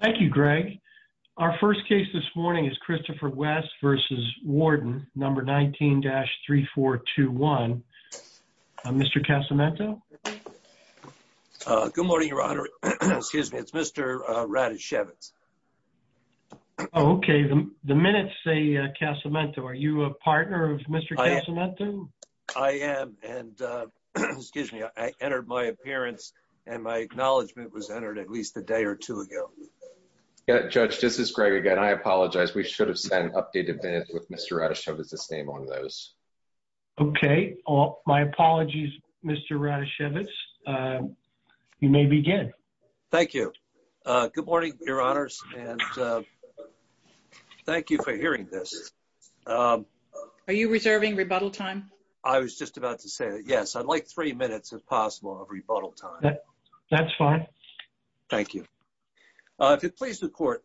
Thank you, Greg. Our first case this morning is Christopher West v. Warden, number 19-3421. Mr. Casamento? Good morning, Your Honor. Excuse me, it's Mr. Radishevitz. Oh, okay. The minutes say Casamento. Are you a partner of Mr. Casamento? I am, and excuse me, I entered my appearance and my acknowledgement was entered at least a day or two ago. Judge, this is Greg again. I apologize. We should have sent updated minutes with Mr. Radishevitz's name on those. Okay. My apologies, Mr. Radishevitz. You may begin. Thank you. Good morning, Your Honors, and thank you for hearing this. Are you reserving rebuttal time? I was just about to say that, yes. I'd like three minutes, if possible, of rebuttal time. That's fine. Thank you. If it pleases the Court,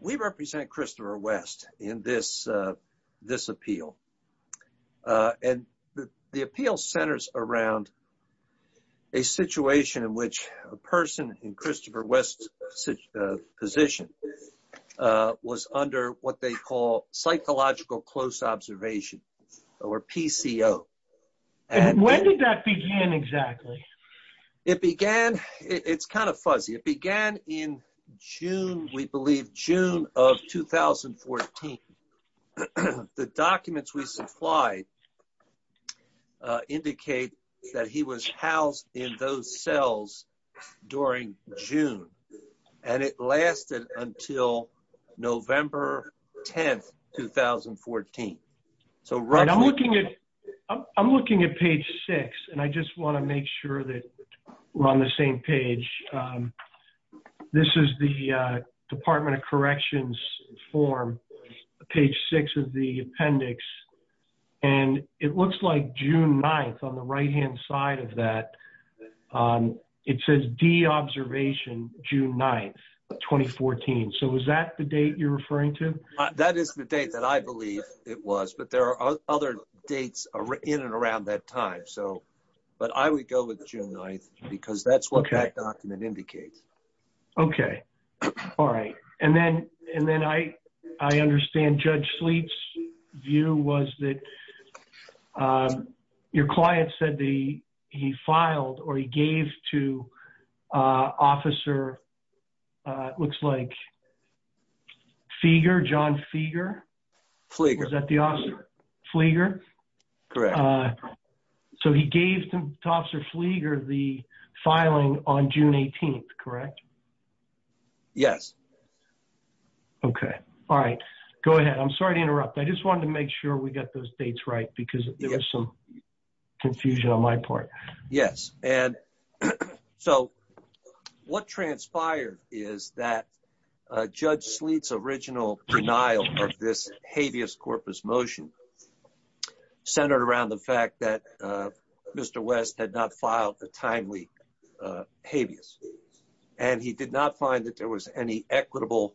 we represent Christopher West in this appeal, and the appeal centers around a situation in which a person in Christopher West's position was under what they call psychological close observation, or PCO. When did that begin exactly? It began, it's kind of fuzzy. It began in June, we believe June of 2014. The documents we supplied indicate that he was housed in those cells during June. It lasted until November 10, 2014. I'm looking at page six, and I just want to make sure that we're on the same page. This is the Department of Corrections form, page six of the D-Observation, June 9, 2014. Is that the date you're referring to? That is the date that I believe it was, but there are other dates in and around that time. I would go with June 9, because that's what that document indicates. Okay. All right. Then I understand Judge Sleet's view was that your client said he filed, or he gave to Officer, looks like, Feger, John Feger? Fleger. Was that the officer? Fleger? Correct. So he gave to Officer Fleger the filing on June 18, correct? Yes. Okay. All right. Go ahead. I'm sorry to interrupt. I just wanted to make sure we got those dates because there was some confusion on my part. Yes. So what transpired is that Judge Sleet's original denial of this habeas corpus motion centered around the fact that Mr. West had not filed a timely habeas, and he did not find that there was any equitable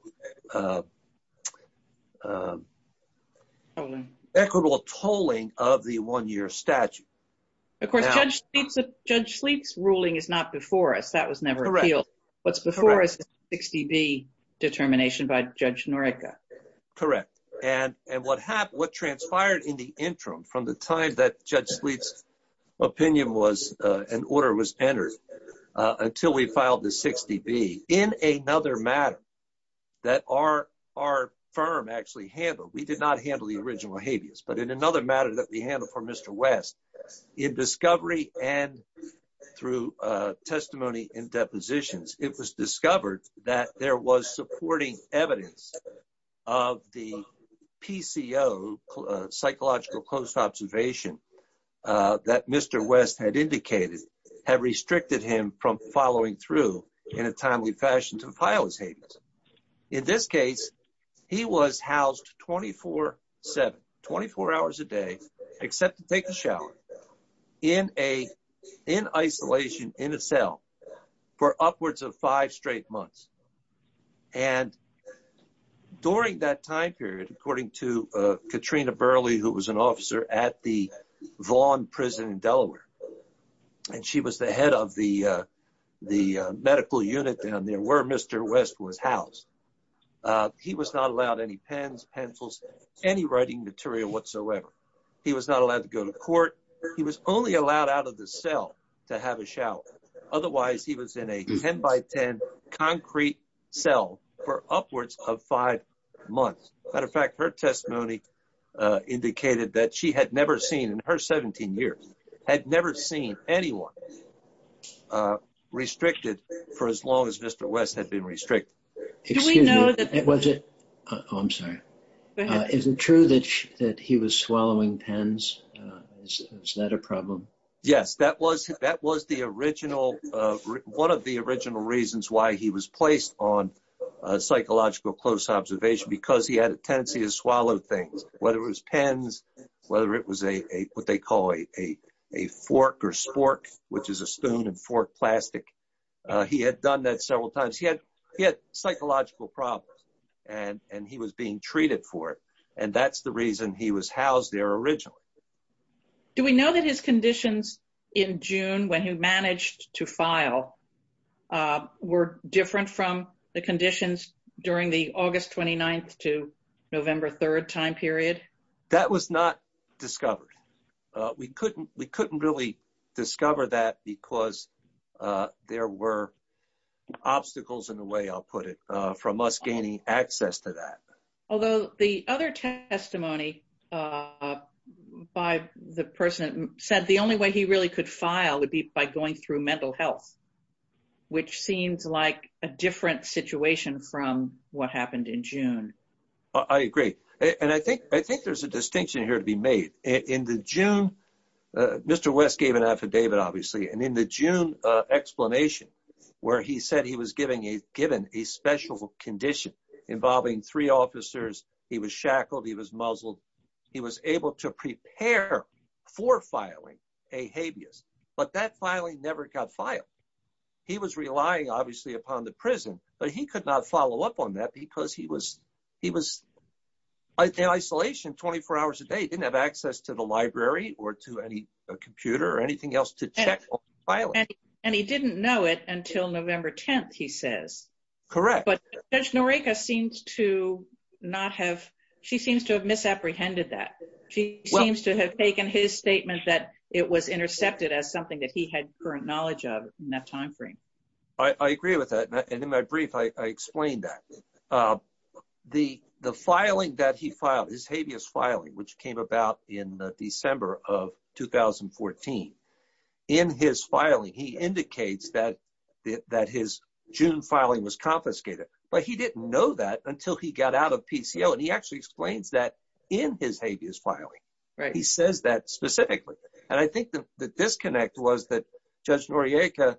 tolling of the one-year statute. Of course, Judge Sleet's ruling is not before us. That was never appealed. What's before us is the 60B determination by Judge Norica. Correct. And what transpired in the interim from the time that Judge Sleet's opinion was, an order was entered until we filed the 60B, in another matter that our firm actually handled, we did not handle the original habeas, but in another matter that we handled for Mr. West, in discovery and through testimony and depositions, it was discovered that there was supporting evidence of the PCO, psychological closed observation, that Mr. West had indicated had restricted him from following through in a timely fashion to file his habeas. In this case, he was housed 24-7, 24 hours a day, except to take a shower in isolation in a cell for upwards of five straight months. And during that time period, according to Katrina Burley, who was an officer at the Vaughan prison in Delaware, and she was the head of the medical unit down there where Mr. West was housed, he was not allowed any pens, pencils, any writing material whatsoever. He was not allowed to court. He was only allowed out of the cell to have a shower. Otherwise, he was in a 10 by 10 concrete cell for upwards of five months. Matter of fact, her testimony indicated that she had never seen in her 17 years, had never seen anyone restricted for as long as Mr. West had been in. Is that a problem? Yes, that was one of the original reasons why he was placed on psychological close observation, because he had a tendency to swallow things, whether it was pens, whether it was what they call a fork or spork, which is a stone and fork plastic. He had done that several times. He had psychological problems and he was being treated for it. And that's the reason he was housed there originally. Do we know that his conditions in June, when he managed to file, were different from the conditions during the August 29th to November 3rd time period? That was not discovered. We couldn't really discover that because there were obstacles in a way, I'll put it, from us gaining access to that. Although the other testimony by the person said the only way he really could file would be by going through mental health, which seems like a different situation from what happened in June. I agree. And I think there's a distinction here to be made. In the June, Mr. West gave an affidavit, obviously. And in the June explanation, where he said he was given a special condition involving three officers, he was shackled, he was muzzled. He was able to prepare for filing a habeas, but that filing never got filed. He was relying, obviously, upon the prison, but he could not follow up on that because he was in isolation 24 hours a day. He didn't have time. And he didn't know it until November 10th, he says. Correct. But Judge Noriega seems to not have, she seems to have misapprehended that. She seems to have taken his statement that it was intercepted as something that he had current knowledge of in that time frame. I agree with that. And in my brief, I explained that. The filing that he filed, his habeas filing, which in his filing, he indicates that his June filing was confiscated. But he didn't know that until he got out of PCO. And he actually explains that in his habeas filing. He says that specifically. And I think the disconnect was that Judge Noriega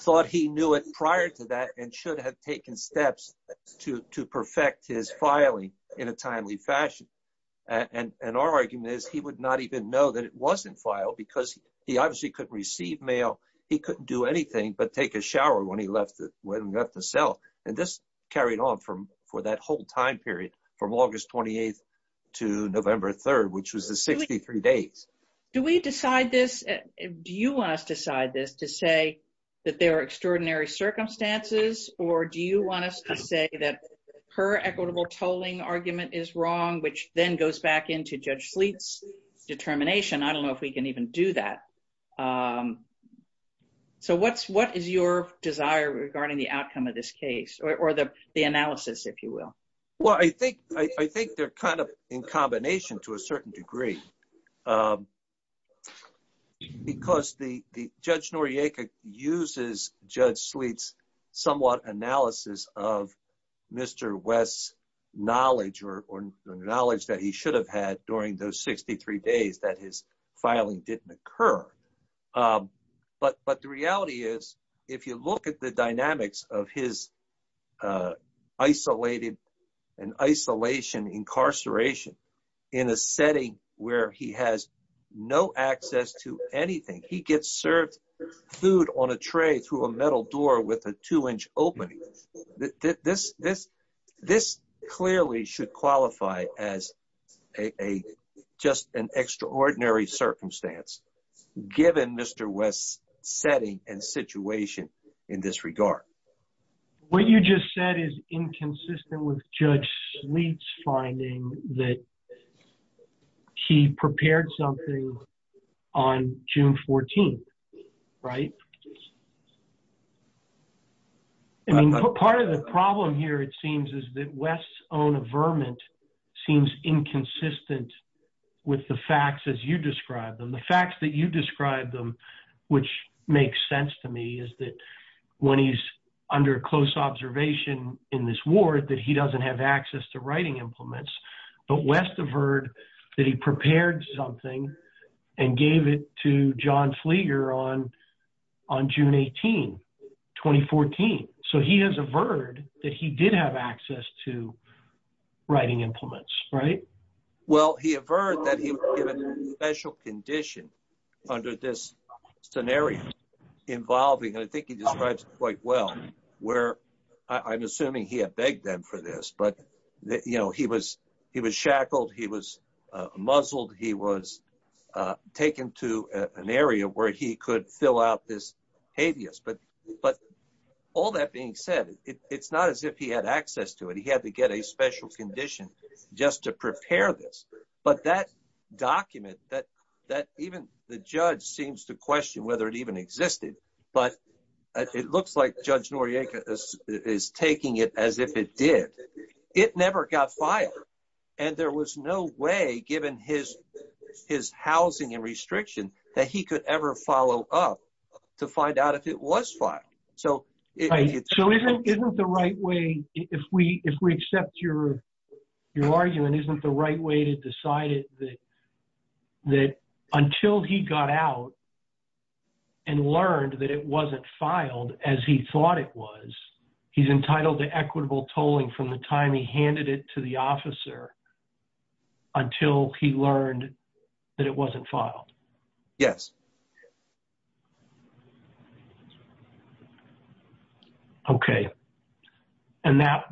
thought he knew it prior to that and should have taken steps to perfect his filing in a timely fashion. And our argument is he would not even know that it wasn't filed because he obviously couldn't receive mail. He couldn't do anything but take a shower when he left the cell. And this carried on for that whole time period, from August 28th to November 3rd, which was the 63 days. Do we decide this? Do you want us to decide this to say that there are extraordinary circumstances? Or do you want us to say that her equitable tolling argument is wrong, which then goes back into Judge Sleet's determination? I don't know if we can even do that. So what is your desire regarding the outcome of this case, or the analysis, if you will? Well, I think they're kind of in combination to a certain degree. Because Judge Noriega uses Judge Sleet's somewhat analysis of Mr. West's knowledge or knowledge that he should have had during those 63 days that his filing didn't occur. But the reality is, if you look at the dynamics of his isolated and isolation incarceration, in a setting where he has no access to anything, he gets served food on a tray through a metal door with a two-inch opening. This clearly should qualify as just an extraordinary circumstance, given Mr. West's setting and situation in this regard. What you just said is inconsistent with Judge Sleet's finding that he prepared something on June 14th, right? I mean, part of the problem here, it seems, is that West's own averment seems inconsistent with the facts as you describe them. The facts that you describe them, which makes sense to me, is that when he's under close observation in this ward, that he doesn't have access to writing implements. But West averred that he prepared something and gave it to John Fleeger on June 18, 2014. So he has averred that he did have access to writing implements, right? Well, he averred that he was given a special condition under this scenario involving, and I think he describes it quite well, where I'm assuming he begged them for this. But he was shackled, he was muzzled, he was taken to an area where he could fill out this habeas. But all that being said, it's not as if he had access to it. He had to get a special condition just to prepare this. But that document, even the judge seems to question whether it even existed. But it looks like Judge Noriega is taking it as if it did. It never got filed. And there was no way, given his housing and restriction, that he could ever follow up to find out if it was filed. So isn't the right way, if we accept your argument, isn't the right way to decide that until he got out and learned that it wasn't filed as he thought it was, he's entitled to equitable tolling from the time he handed it to the officer until he learned that it wasn't filed? Yes. Okay. And now,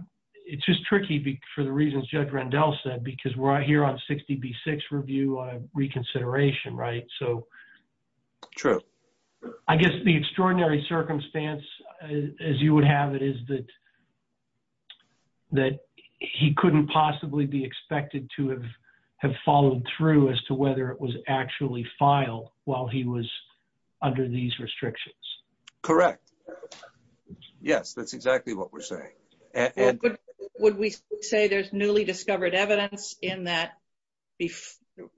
it's just tricky for the reasons Judge Rendell said, because we're here on 60B6 review reconsideration, right? So I guess the extraordinary circumstance, as you would have it, is that he couldn't possibly be expected to have followed through as to whether it was actually filed while he was under these restrictions. Correct. Yes, that's exactly what we're saying. Would we say there's newly discovered evidence in that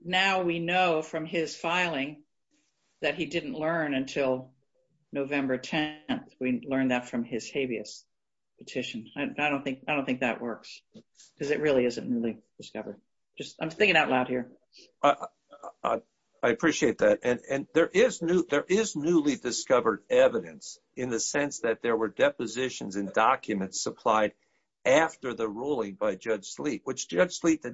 now we know from his filing that he didn't learn until November 10th? We learned that from his habeas petition. I don't think that works, because it really isn't newly discovered. I'm thinking out loud here. I appreciate that. And there is newly discovered evidence in the sense that there were depositions and documents supplied after the ruling by Judge Sleet, which Judge Sleet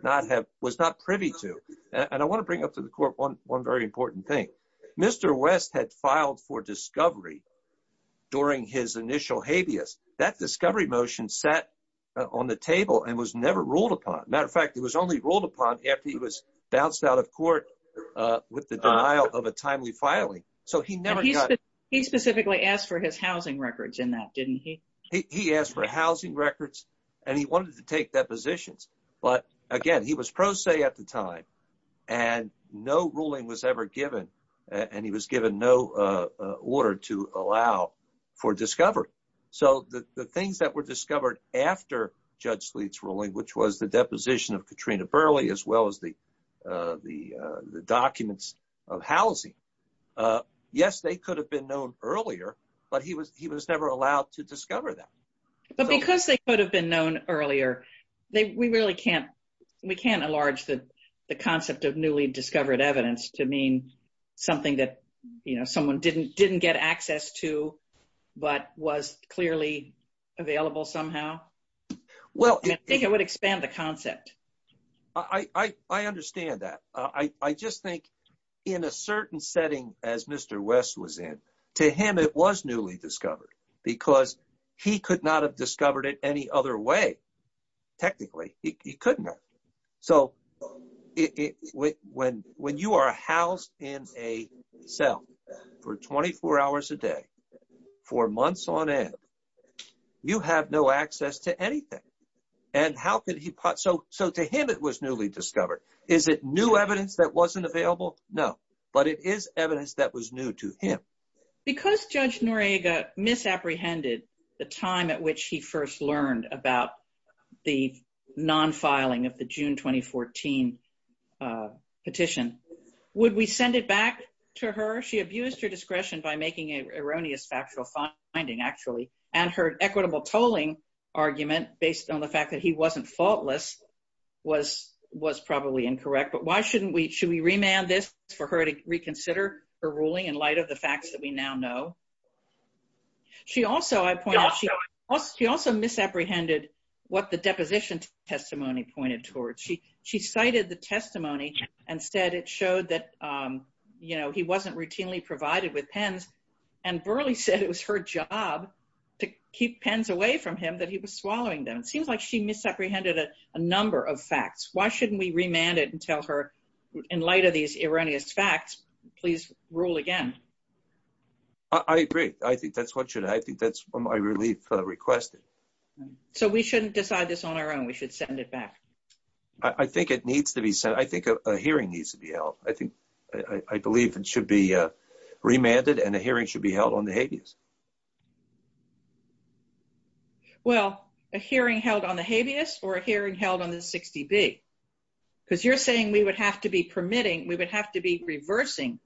was not privy to. And I want to bring up to the court one very important thing. Mr. West had filed for discovery during his initial habeas. That discovery motion sat on the table and was never ruled upon. Matter of fact, it was only ruled upon after he was bounced out of court with the denial of a timely filing. So he never got... He specifically asked for his housing records in that, didn't he? He asked for housing records, and he wanted to take depositions. But again, he was pro se at the time, and no ruling was ever given, and he was given no order to allow for discovery. So the Katrina Burley, as well as the documents of housing, yes, they could have been known earlier, but he was never allowed to discover them. But because they could have been known earlier, we really can't... We can't enlarge the concept of newly discovered evidence to mean something that, you know, someone didn't get access to, but was clearly available somehow. Well, I think it would expand the concept. I understand that. I just think in a certain setting, as Mr. West was in, to him it was newly discovered because he could not have discovered it any other way. Technically, he couldn't have. So when you are housed in a cell for 24 hours a day for months on end, you have no access to anything. And how could he... So to him, it was newly discovered. Is it new evidence that wasn't available? No. But it is evidence that was new to him. Because Judge Noriega misapprehended the time at which he first learned about the non-filing of the June 2014 petition, would we send it back to her? She abused her discretion by making an erroneous factual finding, actually. And her equitable tolling argument, based on the fact that he wasn't faultless, was probably incorrect. But why shouldn't we... Should we remand this for her to reconsider her ruling in light of the facts that we now know? She also, I point out, she also misapprehended what the deposition testimony pointed towards. She cited the testimony and said it showed that he wasn't routinely provided with pens. And Burleigh said it was her job to keep pens away from him, that he was swallowing them. It seems like she misapprehended a number of facts. Why shouldn't we remand it and tell her, in light of these erroneous facts, please rule again? I agree. I think that's what should... I think that's what my relief requested. So we shouldn't decide this on our own. We should send it back. I think it needs to be sent. I think a hearing needs to be held. I believe it should be remanded and a hearing should be held on the habeas. Well, a hearing held on the habeas or a hearing held on the 60B? Because you're saying we would have to be permitting, we would have to be reversing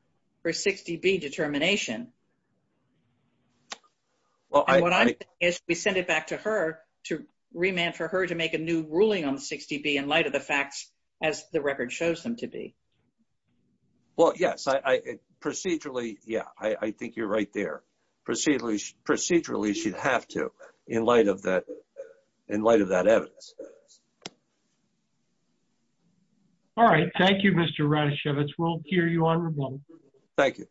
her 60B determination. And what I'm saying is we send it back to her, to remand for her, to make a new ruling on the 60B in light of the facts as the record shows them to be. Well, yes. Procedurally, yeah. I think you're right there. Procedurally, she'd have to, in light of that evidence. All right. Thank you, Mr. Radishowicz. We'll hear you on remand. Thank you.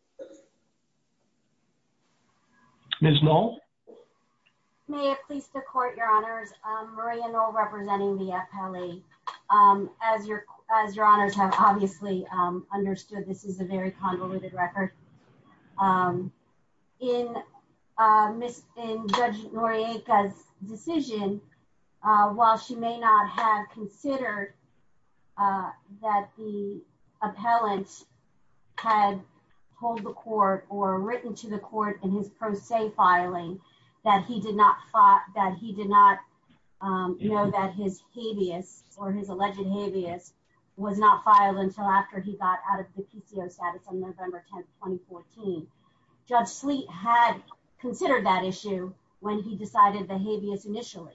Ms. Knoll? I may have pleased to court, Your Honors. Maria Knoll representing the appellee. As Your Honors have obviously understood, this is a very convoluted record. In Judge Noriega's decision, while she may not have considered that the appellant had told the court or written to the court in his pro se filing that he did not know that his habeas or his alleged habeas was not filed until after he got out of the PCO status on November 10, 2014, Judge Sleet had considered that issue when he decided the habeas initially.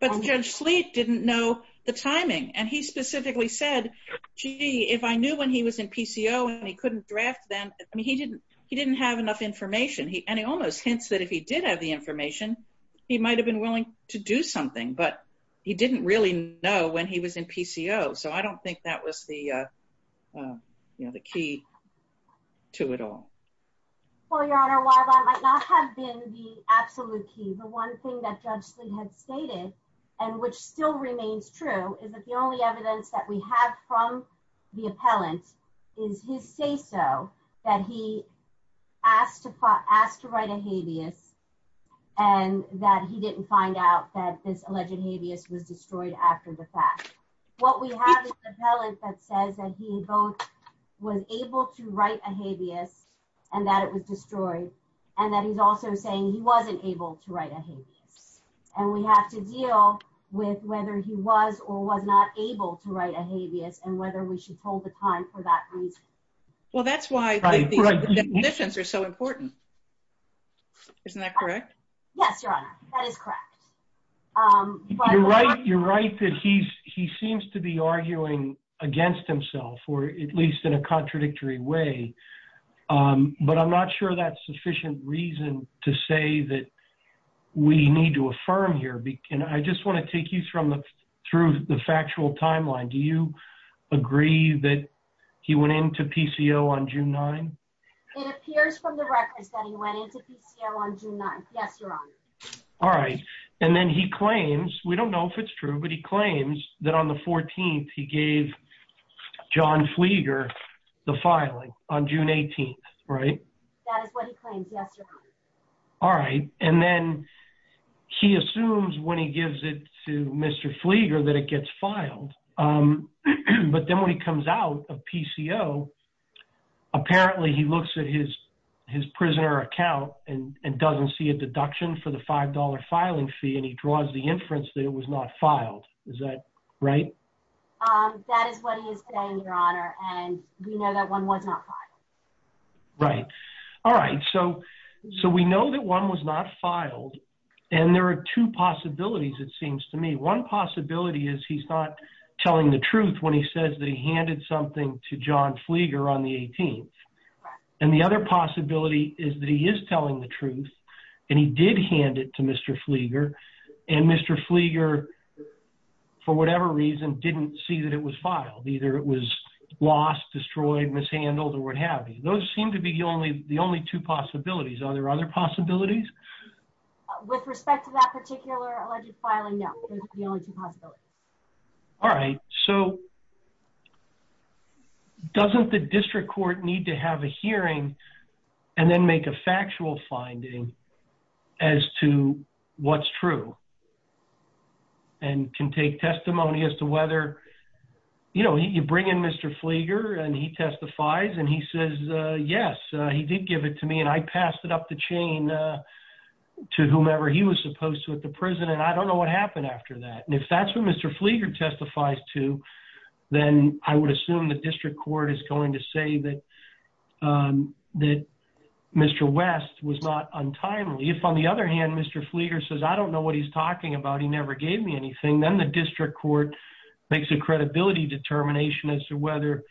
But Judge Sleet didn't know the timing. And he specifically said, gee, if I knew when he was in PCO and he couldn't draft them, I mean, he didn't have enough information. And he almost hints that if he did have the information, he might have been willing to do something. But he didn't really know when he was in PCO. So I don't think that was the key to it all. Well, Your Honor, while that might not have been the absolute key, the one thing that Judge Sleet had stated, and which still remains true, is that the only evidence that we have from the appellant is his say-so that he asked to write a habeas and that he didn't find out that this alleged habeas was destroyed after the fact. What we have is the appellant that says that he both was able to write a habeas and that it was destroyed, and that he's also saying he wasn't able to write a habeas. And we have to deal with whether he was or was not able to write a habeas and whether we should hold the time for that reason. Well, that's why the definitions are so important. Isn't that correct? Yes, Your Honor, that is correct. You're right that he seems to be arguing against himself, or at least in a contradictory way. But I'm not sure that's sufficient reason to say that we need to affirm here. I just want to take you through the factual timeline. Do you agree that he went into PCO on June 9th? It appears from the records that he went into PCO on June 9th. Yes, Your Honor. All right. And then he claims, we don't know if it's true, but he claims that on the 14th he gave John Flieger the filing on June 18th, right? That is what he claims. Yes, Your Honor. All right. And then he assumes when he gives it to Mr. Flieger that it gets filed. But then when he comes out of PCO, apparently he looks at his prisoner account and doesn't see a deduction for the he is saying, Your Honor, and we know that one was not filed. Right. All right. So we know that one was not filed, and there are two possibilities, it seems to me. One possibility is he's not telling the truth when he says that he handed something to John Flieger on the 18th. And the other possibility is that he is telling the truth, and he did hand it to Mr. Flieger, and Mr. Flieger, for whatever reason, didn't see that it was filed. Either it was lost, destroyed, mishandled, or what have you. Those seem to be the only two possibilities. Are there other possibilities? With respect to that particular alleged filing, no. Those are the only two possibilities. All right. So doesn't the district court need to have a hearing and then make a ruling that is true and can take testimony as to whether, you know, you bring in Mr. Flieger, and he testifies, and he says, Yes, he did give it to me, and I passed it up the chain to whomever he was supposed to at the prison, and I don't know what happened after that. And if that's what Mr. Flieger testifies to, then I would assume the district court is going to say that Mr. West was not untimely. If, on the other hand, Mr. Flieger says, I don't know what he's talking about. He never gave me anything. Then the district court makes a credibility determination as to whether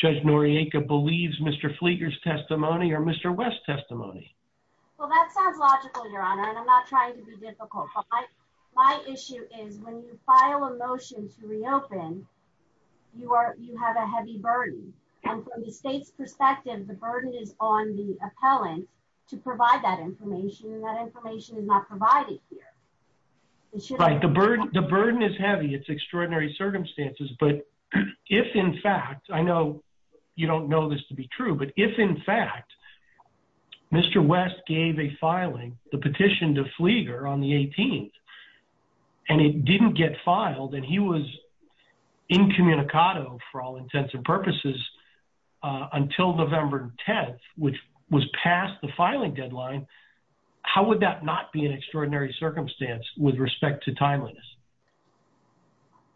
Judge Noriega believes Mr. Flieger's testimony or Mr. West's testimony. Well, that sounds logical, Your Honor, and I'm not trying to be difficult. My issue is when you file a motion to reopen, you have a heavy burden, and from the state's perspective, the burden is on the appellant to provide that information, and that information is not provided here. Right. The burden is heavy. It's extraordinary circumstances, but if, in fact, I know you don't know this to be true, but if, in fact, Mr. West gave a filing, the petition to Flieger on the 18th, and it didn't get filed, and he was incommunicado for all intents and purposes until November 10th, which was past the filing deadline, how would that not be an extraordinary circumstance with respect to timeliness?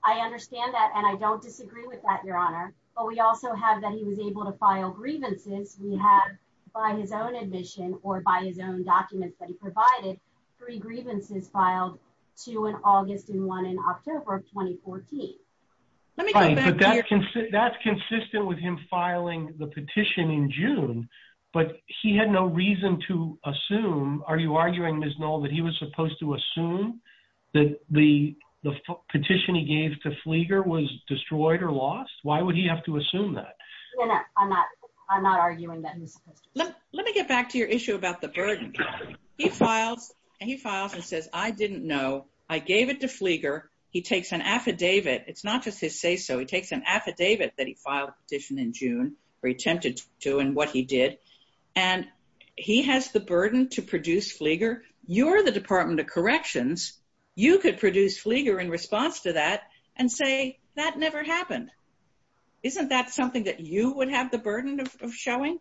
I understand that, and I don't disagree with that, Your Honor, but we also have that he was provided three grievances filed, two in August and one in October of 2014. Right, but that's consistent with him filing the petition in June, but he had no reason to assume, are you arguing, Ms. Knoll, that he was supposed to assume that the petition he gave to Flieger was destroyed or lost? Why would he have to assume that? No, no, I'm not. I'm not arguing that he was supposed to. Let me get back to your issue about the burden. He files, and he files and says, I didn't know. I gave it to Flieger. He takes an affidavit. It's not just his say-so. He takes an affidavit that he filed petition in June, or he attempted to, and what he did, and he has the burden to produce Flieger. You're the Department of Corrections. You could produce Flieger in response to that and say, that never happened. Isn't that something that you would have the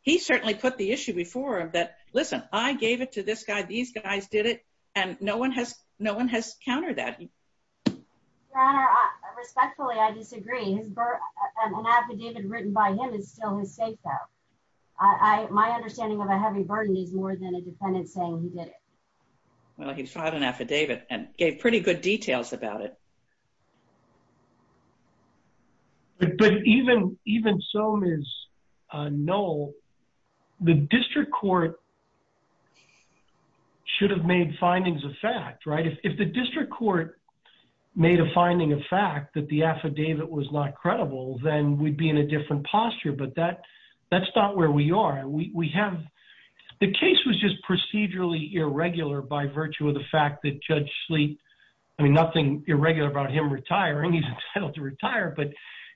he certainly put the issue before him that, listen, I gave it to this guy. These guys did it, and no one has countered that. Your Honor, respectfully, I disagree. An affidavit written by him is still his say-so. My understanding of a heavy burden is more than a defendant saying he did it. Well, he filed an affidavit and gave pretty good details about it. But even so, Ms. Knoll, the district court should have made findings of fact, right? If the district court made a finding of fact that the affidavit was not credible, then we'd be in a different posture, but that's not where we are. The case was just procedurally irregular by virtue of the he's entitled to retire, but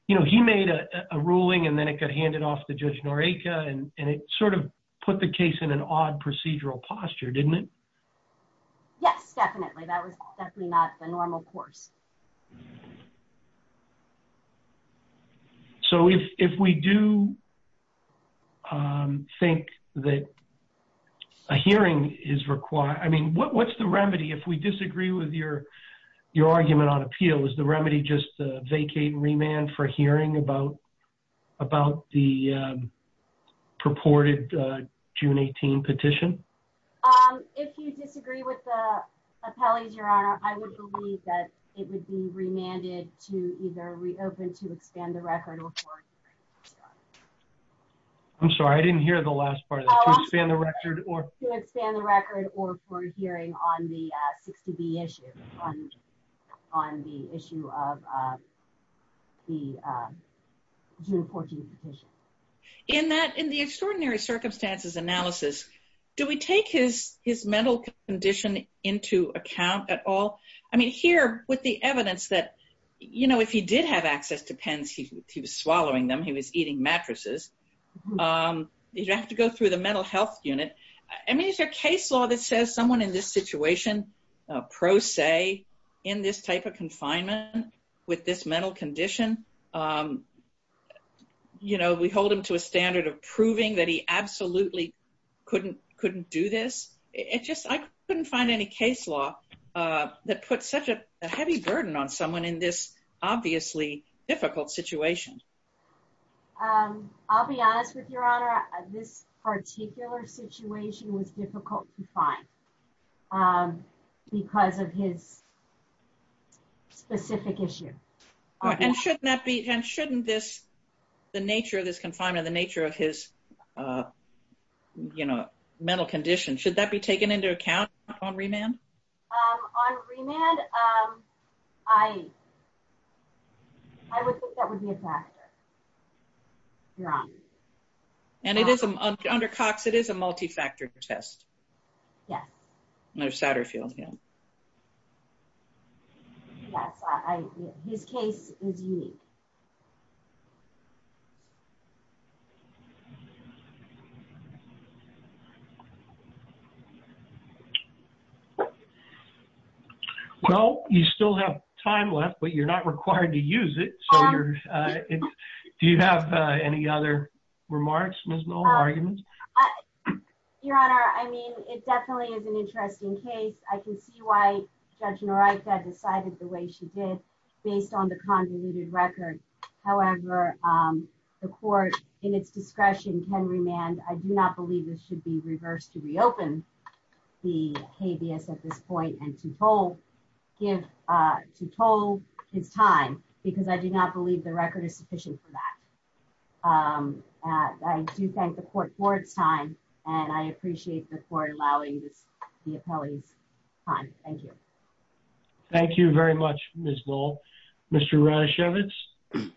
he made a ruling, and then it got handed off to Judge Noriega, and it sort of put the case in an odd procedural posture, didn't it? Yes, definitely. That was definitely not the normal course. So if we do think that a hearing is required, I mean, what's the remedy if we disagree with your argument on appeal? Is the remedy just to vacate and remand for hearing about the purported June 18 petition? If you disagree with the appellees, Your Honor, I would believe that it would be remanded to either reopen to expand the record. I'm sorry, I didn't hear the last part of that. To expand the record or for a hearing on the 60B issue, on the issue of the June 14 petition. In the extraordinary circumstances analysis, do we take his mental condition into account at all? I mean, here with the evidence that, you know, if he did have access to pens, he was swallowing them, he was eating mattresses, you'd have to go through the mental health unit. I mean, is there a case law that says someone in this situation, pro se, in this type of confinement with this mental condition, you know, we hold him to a standard of proving that he absolutely couldn't do this. It just, I couldn't find any case law that puts such a heavy burden on someone in this obviously difficult situation. I'll be honest with Your Honor, this particular situation was difficult to find because of his specific issue. And shouldn't that be, and shouldn't this, the nature of this confinement, the nature of his, you know, mental condition, should that be taken into account on remand? On remand, I would think that would be a factor, Your Honor. And it is, under Cox, it is a multi-factor test. Yes. Under Satterfield, yeah. Yes, I, his case is unique. Well, you still have time left, but you're not required to use it. So you're, do you have any other remarks, Ms. Noll, arguments? Your Honor, I mean, it definitely is an interesting case. I can see why Judge Narita decided the way she did, based on the convoluted record. However, the court, in its discretion, can remand. I do not believe this should be reversed to reopen the habeas at this point and to toll, give, to toll his time, because I do not believe the record is sufficient for that. I do thank the court for its time, and I appreciate the court allowing this, the appellee's time. Thank you. Thank you very much, Ms. Noll. Mr. Ranishevitz?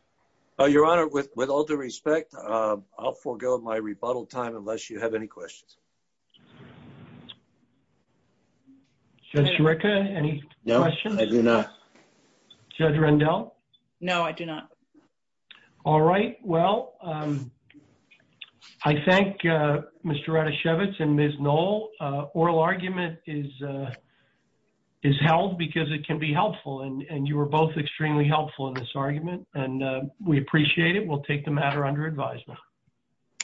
Your Honor, with all due respect, I'll forgo my rebuttal time unless you have any questions. Judge Juricka, any questions? No, I do not. Judge Rendell? No, I do not. All right, well, I thank Mr. Ranishevitz and Ms. Noll. Oral argument is held because it can be helpful, and you were both extremely helpful in this argument, and we appreciate it. We'll take the matter under advisement.